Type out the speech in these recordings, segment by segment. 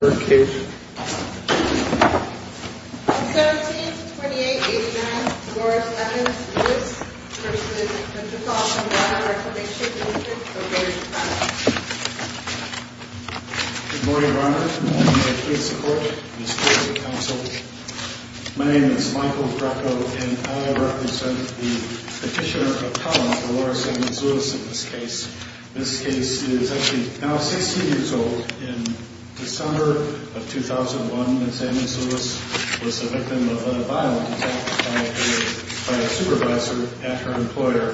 17-28-89 Dolores Evans Lewis v. Metropolitan Blount Recreation District, O'Brien, Toronto Good morning, Your Honor. I ask for your support in this case of counsel. My name is Michael Greco, and I represent the petitioner appellant, Dolores Evans Lewis, in this case. This case is actually now 16 years old. In December of 2001, Ms. Evans Lewis was the victim of a violent attack by a supervisor at her employer,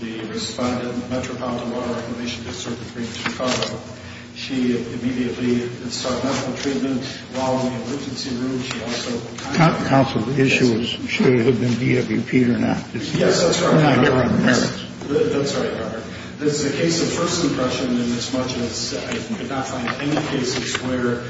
the respondent, Metropolitan Blount Recreation District, O'Brien, Chicago. She immediately started medical treatment while in the emergency room. She also- Counsel, the issue is, should it have been DWP or not? Yes, that's right, Your Honor. That's right, Your Honor. This is a case of first impression inasmuch as I could not find any cases where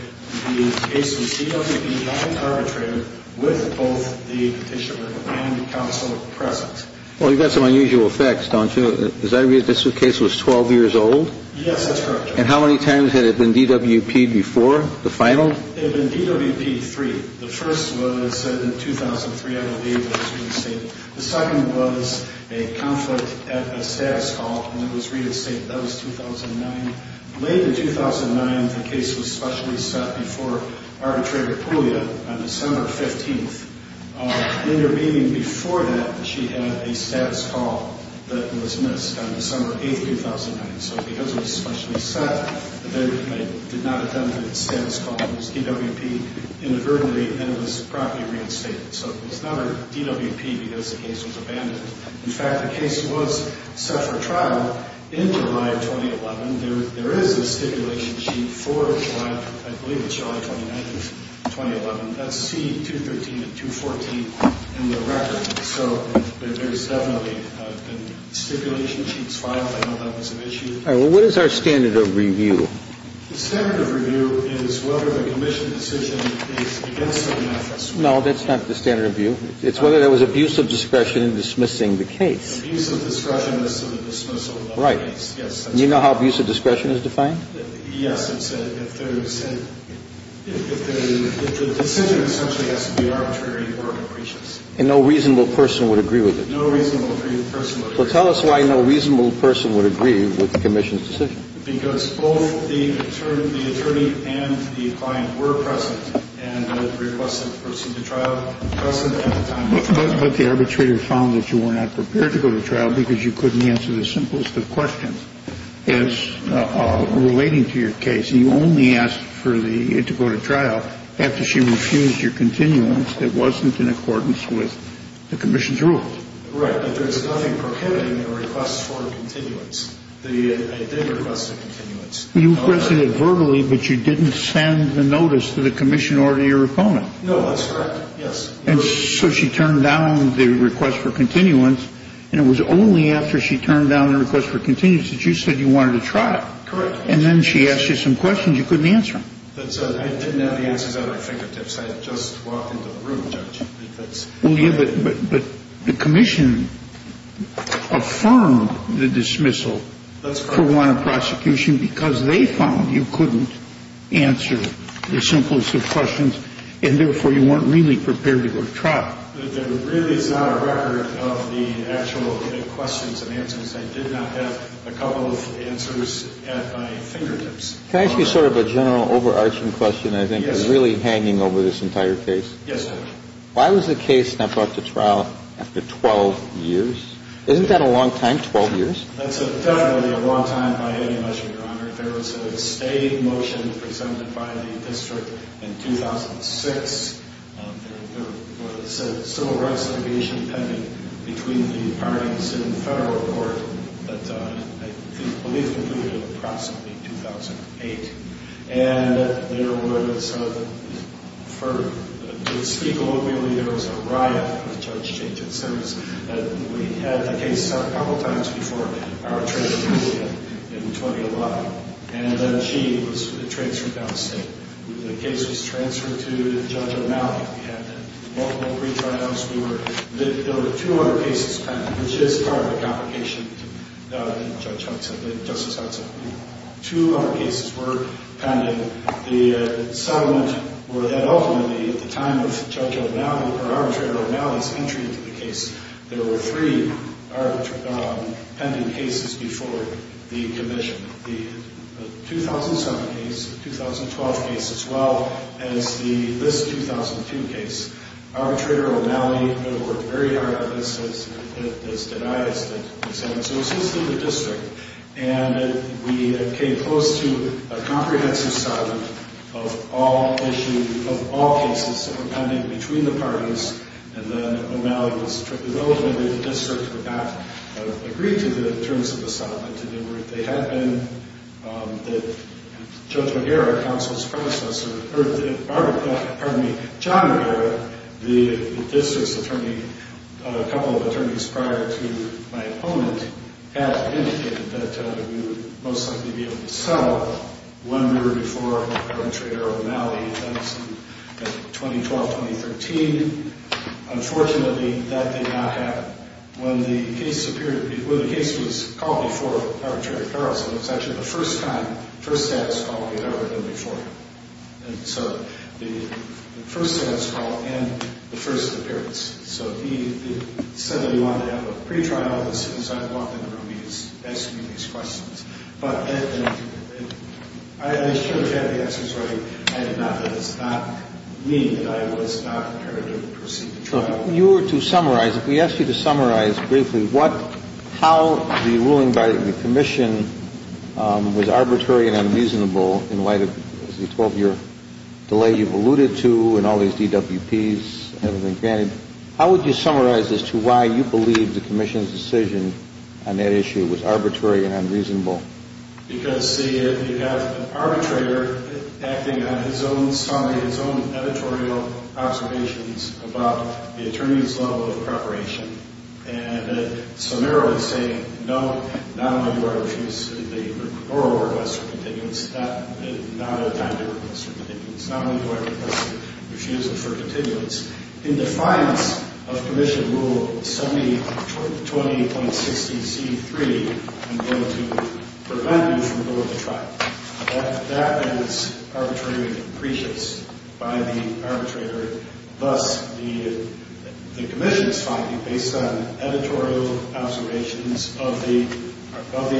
the case was DWP-violently arbitrated with both the petitioner and counsel present. Well, you've got some unusual effects, don't you? Does that mean this case was 12 years old? Yes, that's correct, Your Honor. And how many times had it been DWP-ed before, the final? It had been DWP-ed three. The first was in 2003, I believe, when it was reinstated. The second was a conflict at a status call, and it was reinstated. That was 2009. Late in 2009, the case was specially set before arbitrator Puglia on December 15th. Intervening before that, she had a status call that was missed on December 8th, 2009. So because it was specially set, the veteran did not attend the status call. It was DWP inadvertently, and it was promptly reinstated. So it was not a DWP because the case was abandoned. In fact, the case was set for trial in July of 2011. There is a stipulation sheet for July, I believe it's July 29th of 2011. That's C213 and 214 in the record. So there's definitely a stipulation sheet filed. I don't know if that was an issue. All right. Well, what is our standard of review? The standard of review is whether the commission decision is against certain efforts. No, that's not the standard of review. It's whether there was abuse of discretion in dismissing the case. Abuse of discretion as to the dismissal of the case. Right. Yes, that's correct. Do you know how abuse of discretion is defined? Yes. It's if the decision essentially has to be arbitrary or capricious. And no reasonable person would agree with it. No reasonable person would agree with it. Well, tell us why no reasonable person would agree with the commission's decision. Because both the attorney and the client were present and had requested to pursue the trial present at the time. But the arbitrator found that you were not prepared to go to trial because you couldn't answer the simplest of questions as relating to your case. So you only asked for the, to go to trial after she refused your continuance that wasn't in accordance with the commission's rules. Right. But there's nothing prohibiting the request for continuance. I did request a continuance. You requested it verbally, but you didn't send the notice to the commission or to your opponent. No, that's correct. Yes. And so she turned down the request for continuance, and it was only after she turned down the request for continuance that you said you wanted to trial. Correct. And then she asked you some questions you couldn't answer. I didn't have the answers at my fingertips. I just walked into the room, Judge. Well, yeah, but the commission affirmed the dismissal for want of prosecution because they found you couldn't answer the simplest of questions, and therefore you weren't really prepared to go to trial. There really is not a record of the actual questions and answers. I did not have a couple of answers at my fingertips. Can I ask you sort of a general overarching question that I think is really hanging over this entire case? Yes, Judge. Why was the case not brought to trial after 12 years? Isn't that a long time, 12 years? That's definitely a long time by any measure, Your Honor. There was a state motion presented by the district in 2006. There was a civil rights litigation pending between the parties in federal court that I believe completed approximately 2008. And there was a, to speak locally, there was a riot with Judge Jameson. We had the case a couple of times before our transfer in 2011. And then she was transferred down the state. The case was transferred to Judge O'Malley. We had multiple retrials. There were 200 cases pending, which is part of the complication, Judge Hudson, Justice Hudson. Two other cases were pending. The settlement were that ultimately at the time of Judge O'Malley, or Arbitrator O'Malley's entry into the case, there were three pending cases before the commission. The 2007 case, the 2012 case, as well as this 2002 case. Arbitrator O'Malley worked very hard on this, as did I, as did Ms. Hudson. So it was his little district. And we came close to a comprehensive settlement of all issues, of all cases that were pending between the parties. And then O'Malley was, ultimately the district would not agree to the terms of the settlement. And they had been, Judge McGarrett, counsel's predecessor, or, pardon me, John McGarrett, the district's attorney, a couple of attorneys prior to my opponent, had indicated that we would most likely be able to settle when we were before Arbitrator O'Malley and Ms. Hudson in 2012-2013. Unfortunately, that did not happen. When the case was called before Arbitrator Carlson, it was actually the first time, first status call we had ever done before him. And so the first status call and the first appearance. So he said that he wanted to have a pretrial as soon as I walked in the room, he asked me these questions. But I should have had the answers right. I did not. That does not mean that I was not prepared to proceed to trial. If we asked you to summarize briefly how the ruling by the Commission was arbitrary and unreasonable in light of the 12-year delay you've alluded to and all these DWPs and everything granted, how would you summarize as to why you believe the Commission's decision on that issue was arbitrary and unreasonable? Because you have an arbitrator acting on his own summary, his own editorial observations about the attorney's level of preparation. And the scenario is saying, no, not only do I refuse the oral request for continuance, not a time to request for continuance, not only do I refuse it for continuance, in defiance of Commission Rule 20.60c.3, I'm going to prevent you from going to trial. That is arbitrary and depreciates by the arbitrator. Thus, the Commission's finding based on editorial observations of the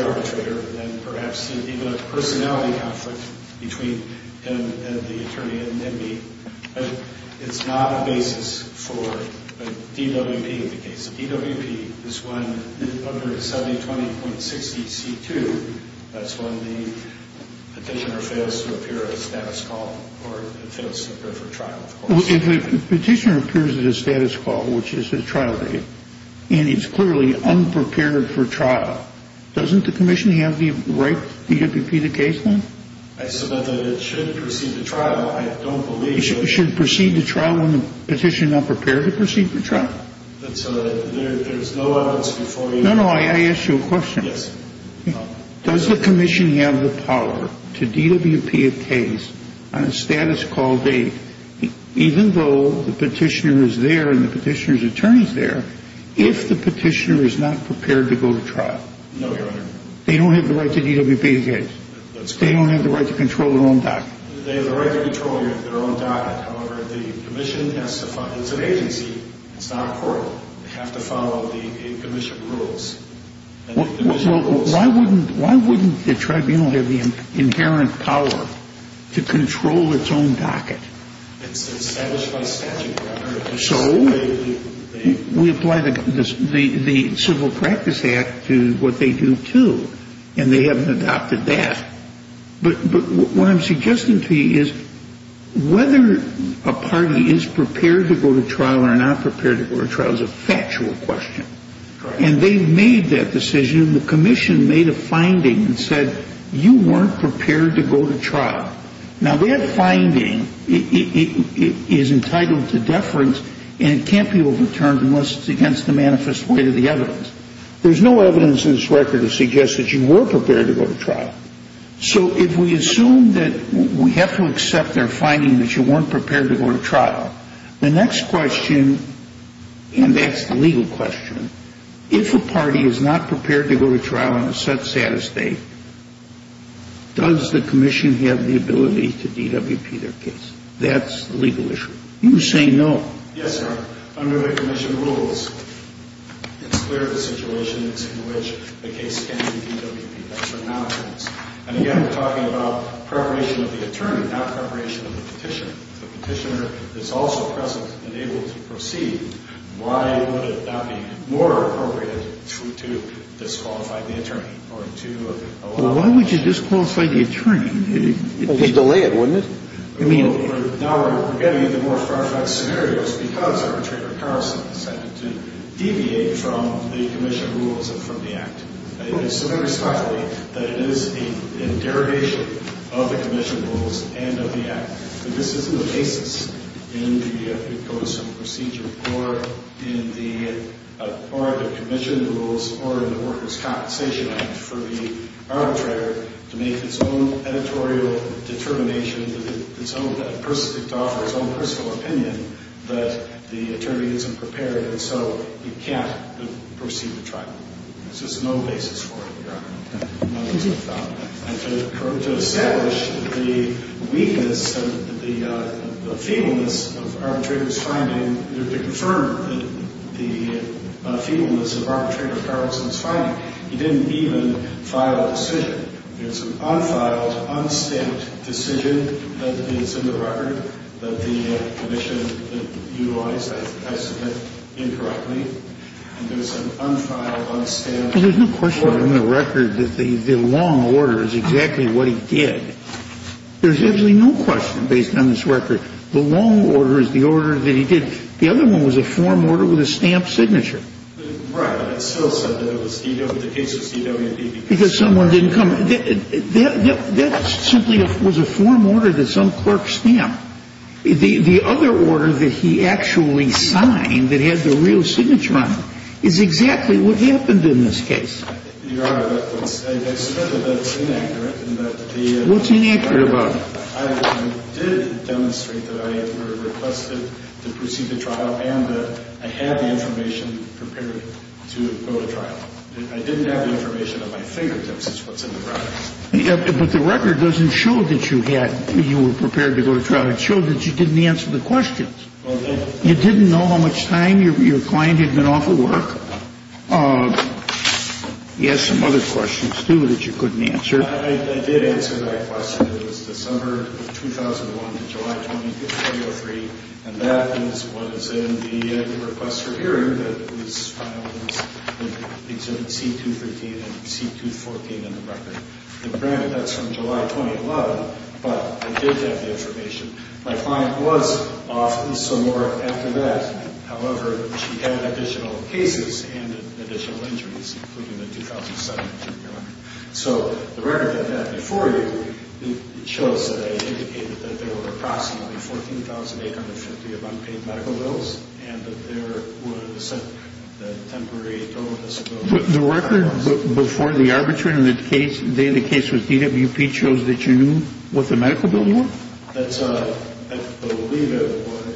arbitrator and perhaps even a personality conflict between him and the attorney and me, it's not a basis for a DWP in the case. A DWP is one under 7020.60c.2. That's when the petitioner fails to appear at a status call or fails to appear for trial, of course. If a petitioner appears at a status call, which is a trial date, and he's clearly unprepared for trial, doesn't the Commission have the right DWP the case then? I submit that it should proceed to trial. I don't believe that. It should proceed to trial when the petitioner is not prepared to proceed to trial? There's no evidence before you. No, no. I asked you a question. Yes. Does the Commission have the power to DWP a case on a status call date, even though the petitioner is there and the petitioner's attorney is there, if the petitioner is not prepared to go to trial? No, Your Honor. They don't have the right to DWP the case. They don't have the right to control their own document. They have the right to control their own docket. However, the Commission has to fund it. It's an agency. It's not a court. They have to follow the Commission rules. Why wouldn't the Tribunal have the inherent power to control its own docket? It's established by statute, Your Honor. So? We apply the Civil Practice Act to what they do, too, and they haven't adopted that. But what I'm suggesting to you is whether a party is prepared to go to trial or not prepared to go to trial is a factual question. And they've made that decision, and the Commission made a finding and said you weren't prepared to go to trial. Now, that finding is entitled to deference, and it can't be overturned unless it's against the manifest weight of the evidence. There's no evidence in this record to suggest that you were prepared to go to trial. So if we assume that we have to accept their finding that you weren't prepared to go to trial, the next question, and that's the legal question, if a party is not prepared to go to trial on a set status date, does the Commission have the ability to DWP their case? That's the legal issue. You say no. Yes, Your Honor. Under the Commission rules, it's clear the situation is in which the case can be DWP'd. That's what now means. And again, we're talking about preparation of the attorney, not preparation of the petitioner. If the petitioner is also present and able to proceed, why would it not be more appropriate to disqualify the attorney or to allow him to proceed? Why would you disqualify the attorney? It would delay it, wouldn't it? Now we're getting into more far-fetched scenarios because Arbitrator Carlson decided to deviate from the Commission rules and from the Act. It is so very smartly that it is a derogation of the Commission rules and of the Act. This isn't the basis in the codicil procedure or in the Commission rules or in the Workers' Compensation Act for the arbitrator to make its own editorial determination and to offer his own personal opinion, but the attorney isn't prepared, and so he can't proceed with trial. There's just no basis for it, Your Honor. To establish the weakness, the feebleness of Arbitrator Carlson's finding, to confirm the feebleness of Arbitrator Carlson's finding, he didn't even file a decision. There's an unfiled, unstamped decision that is in the record that the Commission utilized, I submit, incorrectly, and there's an unfiled, unstamped order. Well, there's no question in the record that the long order is exactly what he did. There's absolutely no question based on this record. The long order is the order that he did. The other one was a form order with a stamped signature. Right, but it still said that it was DW, the case was DW. Because someone didn't come. That simply was a form order that some clerk stamped. The other order that he actually signed that had the real signature on it is exactly what happened in this case. Your Honor, I submit that that's inaccurate. What's inaccurate about it? I did demonstrate that I requested to proceed with trial and that I had the information prepared to go to trial. I didn't have the information at my fingertips is what's in the record. But the record doesn't show that you were prepared to go to trial. It showed that you didn't answer the questions. You didn't know how much time your client had been off of work. He has some other questions, too, that you couldn't answer. I did answer that question. It was December 2001 to July 2003, and that is what is in the request for hearing that was filed in Exhibit C-213 and C-214 in the record. Granted, that's from July 2011, but I did have the information. My client was off and some more after that. However, she had additional cases and additional injuries, including the 2007 injury. So the record had that before you. It shows that I indicated that there were approximately 14,850 unpaid medical bills and that there was a temporary total disability. The record before the arbitration and the case with DWP shows that you knew what the medical bills were? That's right. I believe it was.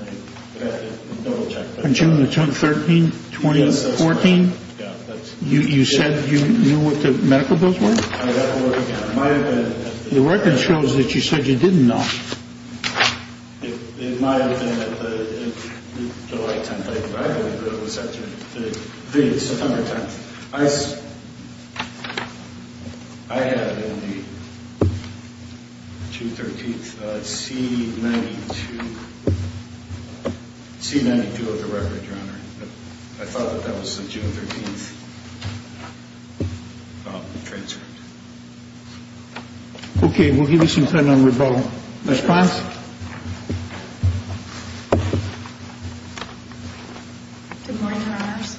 I have to double-check. June the 13th, 2014? Yes, that's right. You said you knew what the medical bills were? The record shows that you said you didn't know. It might have been July 10th. I believe it was September 10th. I had in the June 13th C-92 of the record, Your Honor. I thought that was the June 13th transfer. Okay. We'll give you some time now to rebuttal. Response? Good morning, Your Honors.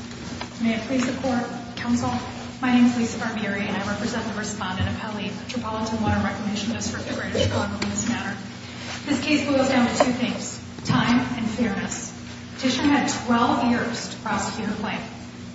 May I please support counsel? My name is Lisa Barbieri, and I represent the respondent, Apelli, a Tripolitan water recognitionist for Greater Chicago in this matter. This case boils down to two things, time and fairness. Petitioner had 12 years to prosecute a claim.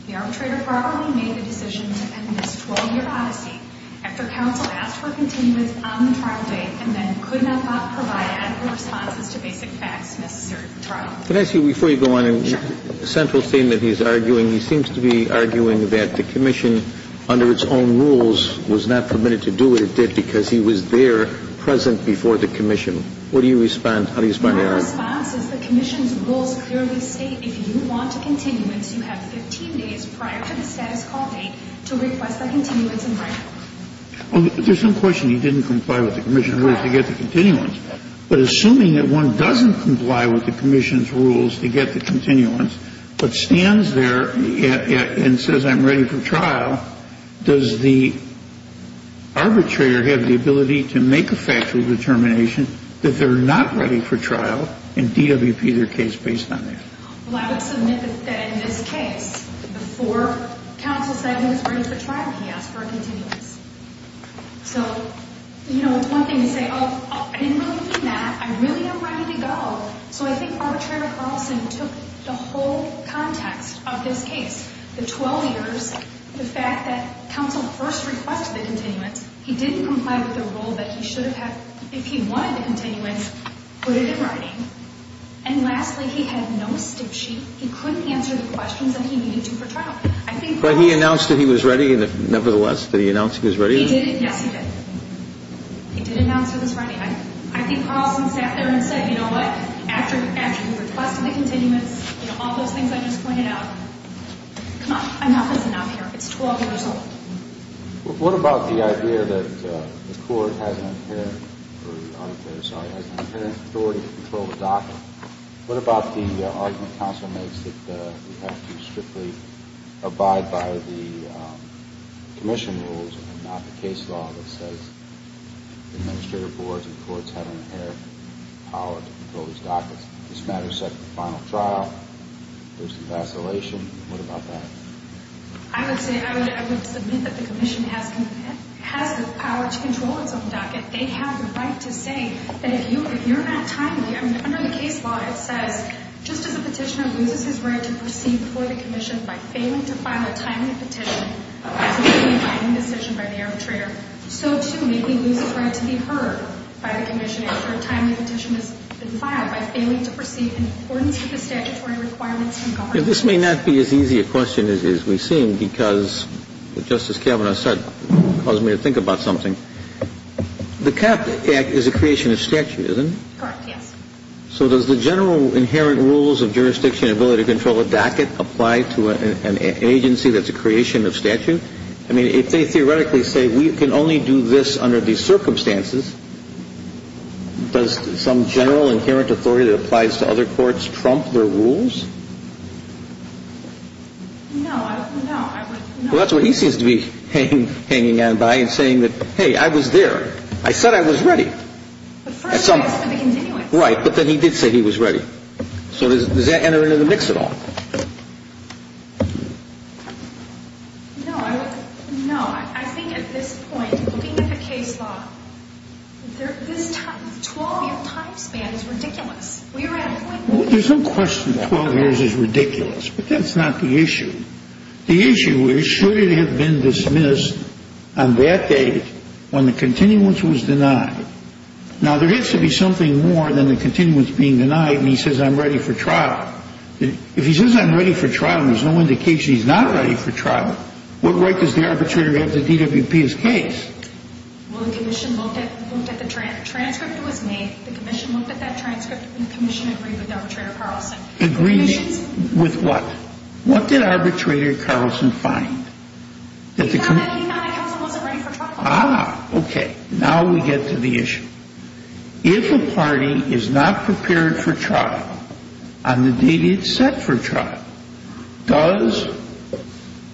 The arbitrator probably made the decision to end this 12-year odyssey after counsel asked for continuance on the trial date and then could not provide adequate responses to basic facts necessary for the trial. Can I ask you, before you go on, a central statement he's arguing. He seems to be arguing that the commission, under its own rules, was not permitted to do what it did because he was there present before the commission. What do you respond? How do you respond to that? My response is the commission's rules clearly state if you want a continuance, you have 15 days prior to the status call date to request a continuance in writing. There's some question he didn't comply with the commission's rules to get the continuance. But assuming that one doesn't comply with the commission's rules to get the continuance but stands there and says, I'm ready for trial, does the arbitrator have the ability to make a factual determination that they're not ready for trial and DWP their case based on that? Well, I would submit that in this case, before counsel said he was ready for trial, he asked for a continuance. So, you know, it's one thing to say, oh, I didn't really mean that. I really am ready to go. So I think arbitrator Carlson took the whole context of this case, the 12 years, the fact that counsel first requested the continuance. He didn't comply with the rule that he should have had, if he wanted the continuance, put it in writing. And lastly, he had no stick sheet. He couldn't answer the questions that he needed to for trial. But he announced that he was ready, nevertheless, that he announced he was ready? He did. Yes, he did. He did announce that he was ready. I think Carlson sat there and said, you know what, after he requested the continuance, you know, all those things I just pointed out, come on, enough is enough here. It's 12 years old. What about the idea that the court has an inherent authority to control the docket? What about the argument counsel makes that we have to strictly abide by the commission rules and not the case law that says administrative boards and courts have an inherent power to control these dockets? This matter is set for the final trial. There's some vacillation. What about that? I would say, I would submit that the commission has the power to control its own docket. They have the right to say that if you're not timely, I mean, under the case law, it says just as a petitioner loses his right to proceed before the commission by failing to file a timely petition as a legally binding decision by the arbitrator, so, too, may he lose his right to be heard by the commission after a timely petition has been filed by failing to proceed in accordance with the statutory requirements from government. This may not be as easy a question as we've seen because, just as Kavanaugh said, it caused me to think about something. The CAP Act is a creation of statute, isn't it? Correct, yes. So does the general inherent rules of jurisdiction and ability to control a docket apply to an agency that's a creation of statute? I mean, if they theoretically say we can only do this under these circumstances, does some general inherent authority that applies to other courts trump their rules? No, I would not. Well, that's what he seems to be hanging on by and saying that, hey, I was there. I said I was ready. But first I said the continuance. Right, but then he did say he was ready. So does that enter into the mix at all? No, I would not. I think at this point, looking at the case law, this 12-year time span is ridiculous. There's no question 12 years is ridiculous, but that's not the issue. The issue is should it have been dismissed on that date when the continuance was denied? Now, there has to be something more than the continuance being denied, and he says I'm ready for trial. If he says I'm ready for trial and there's no indication he's not ready for trial, what right does the arbitrator have to DWP his case? Well, the commission looked at the transcript that was made. The commission looked at that transcript, and the commission agreed with Arbitrator Carlson. Agreed with what? What did Arbitrator Carlson find? He found that counsel wasn't ready for trial. Ah, okay. Now we get to the issue. If a party is not prepared for trial on the date it's set for trial, does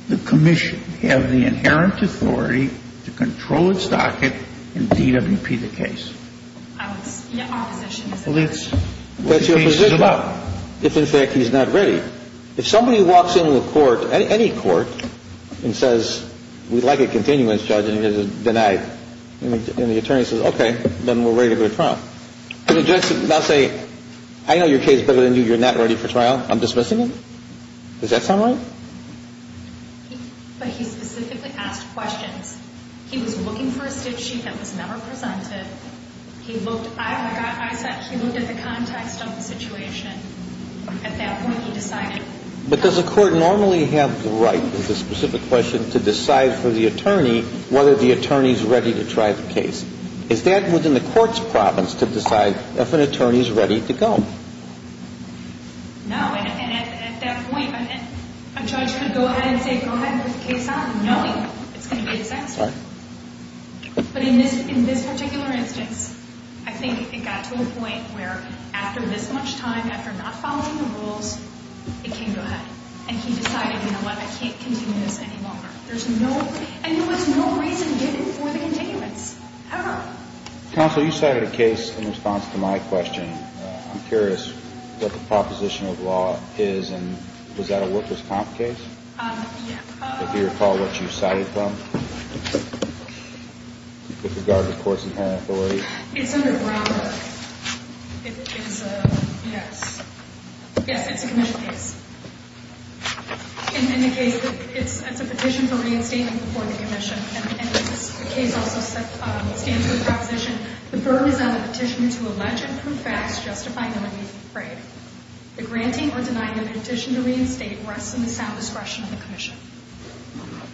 the commission have the inherent authority to control its docket and DWP the case? The opposition is that. Well, it's what the case is about. If, in fact, he's not ready. If somebody walks into a court, any court, and says we'd like a continuance, Judge, and it is denied, and the attorney says okay, then we're ready to go to trial, can the judge not say I know your case better than you, you're not ready for trial, I'm dismissing it? Does that sound right? But he specifically asked questions. He was looking for a stitch sheet that was never presented. He looked at the context of the situation. At that point, he decided. But does the court normally have the right, with a specific question, to decide for the attorney whether the attorney is ready to try the case? Is that within the court's province to decide if an attorney is ready to go? No. And at that point, a judge could go ahead and say go ahead and put the case on, knowing it's going to be a disaster. But in this particular instance, I think it got to a point where after this much time, after not following the rules, it came to a head. And he decided, you know what, I can't continue this any longer. And there was no reason given for the continuance, ever. Counsel, you cited a case in response to my question. I'm curious what the proposition of law is. And was that a workers' comp case? Yeah. Do you recall what you cited from, with regard to courts and parent authorities? It's under Brownberg. It is a, yes. Yes, it's a commission case. In the case, it's a petition for reinstatement before the commission. And the case also stands with the proposition.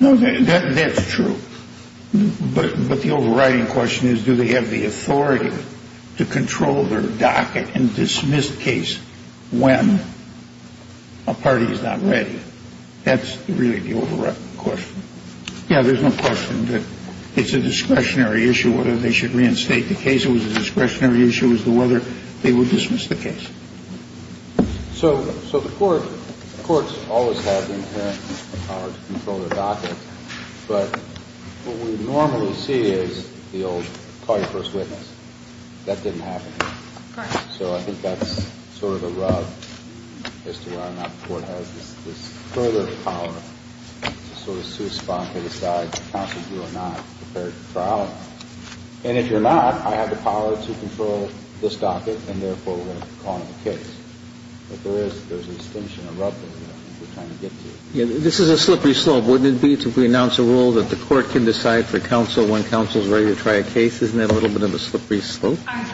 No, that's true. But the overriding question is, do they have the authority to control their docket and dismiss the case when a party is not ready? That's really the overriding question. Yeah, there's no question that it's a discretionary issue whether they should reinstate the case. It was a discretionary issue as to whether they would dismiss the case. So the courts always have the inherent power to control their docket. But what we normally see is the old call your first witness. That didn't happen here. Correct. So I think that's sort of a rub as to whether or not the court has this further power to sort of And if you're not, I have the power to control this docket, and therefore we're going to call it a case. But there is a distinction, a rub that we're trying to get to. This is a slippery slope. Wouldn't it be to renounce a rule that the court can decide for counsel when counsel is ready to try a case? Isn't that a little bit of a slippery slope? I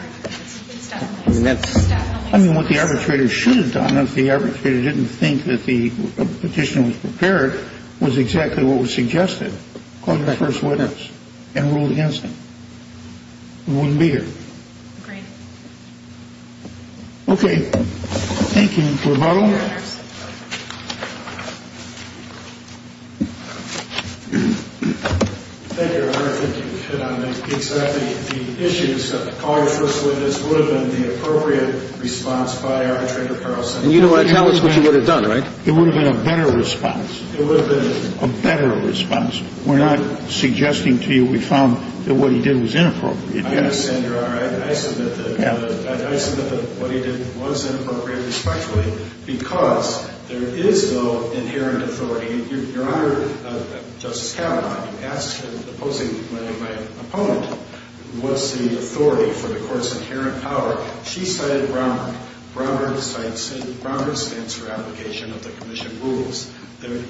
mean, what the arbitrator should have done if the arbitrator didn't think that the call your first witness and ruled against him. It wouldn't be here. Agreed. Okay. Thank you, Your Honor. Thank you, Your Honor. I think you've hit on exactly the issues that the call your first witness would have been the appropriate response by arbitrator Carlson. And you don't want to tell us what you would have done, right? It would have been a better response. It would have been a better response. We're not suggesting to you we found that what he did was inappropriate. I understand, Your Honor. I submit that what he did was inappropriate, respectfully, because there is, though, inherent authority. Your Honor, Justice Kavanaugh, you asked him, opposing my opponent, what's the authority for the court's inherent power. She cited Browner. Browner stands for application of the commission rules. The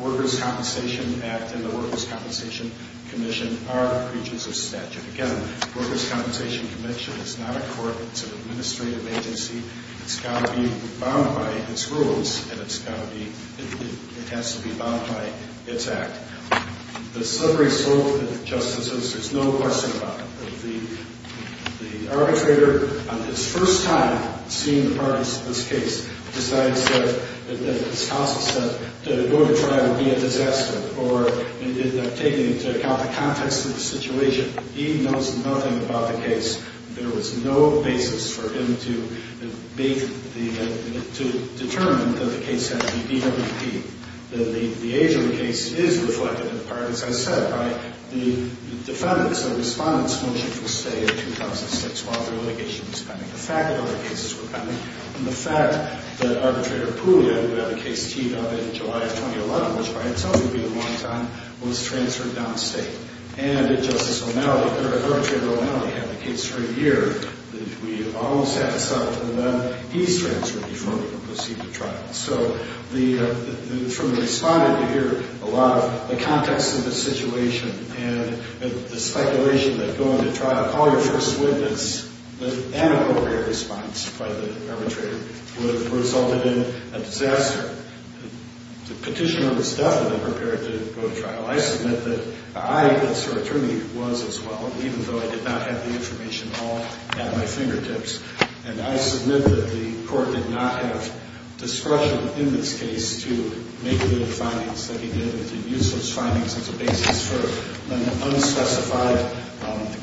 Workers' Compensation Act and the Workers' Compensation Commission are breaches of statute. Again, Workers' Compensation Commission is not a court. It's an administrative agency. It's got to be bound by its rules, and it has to be bound by its act. The slippery slope, Justices, there's no question about it. The arbitrator, on his first time seeing the parties to this case, decides that, as Counsel said, going to trial would be a disaster, or taking into account the context of the situation, he knows nothing about the case. There was no basis for him to determine that the case had to be DWP. The age of the case is reflected in the part, as I said, by the defendants and respondents' motion for stay in 2006 while the litigation was pending, the fact that other cases were pending, and the fact that Arbitrator Puglia, who had a case teed up in July of 2011, which by itself would be a long time, was transferred downstate. And Justice O'Malley, Arbitrator O'Malley had the case for a year. We almost had to settle for that. He's transferred before we could proceed to trial. So from the respondent, you hear a lot of the context of the situation and the speculation that going to trial, call your first witness, an inappropriate response by the arbitrator would have resulted in a disaster. The petitioner was definitely prepared to go to trial. I submit that I, as her attorney was as well, even though I did not have the information all at my fingertips, and I submit that the court did not have discretion in this case to make the findings that he did, to use those findings as a basis for an unspecified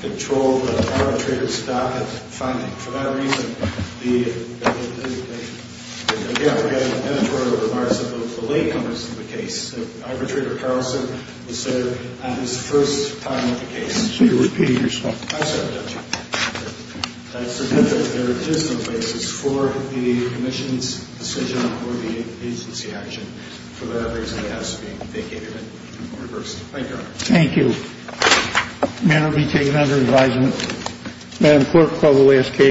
control of the arbitrator's docket finding. For that reason, the re-application of editorial remarks of the late comers to the case, that Arbitrator Carlson was there on his first time at the case. So you're repeating yourself. I'm sorry, Judge. I submit that there is no basis for the commission's decision or the agency action. For that reason, I ask that you give it reverse. Thank you, Your Honor. Thank you. The matter will be taken under advisement. Madam Clerk, call the last case.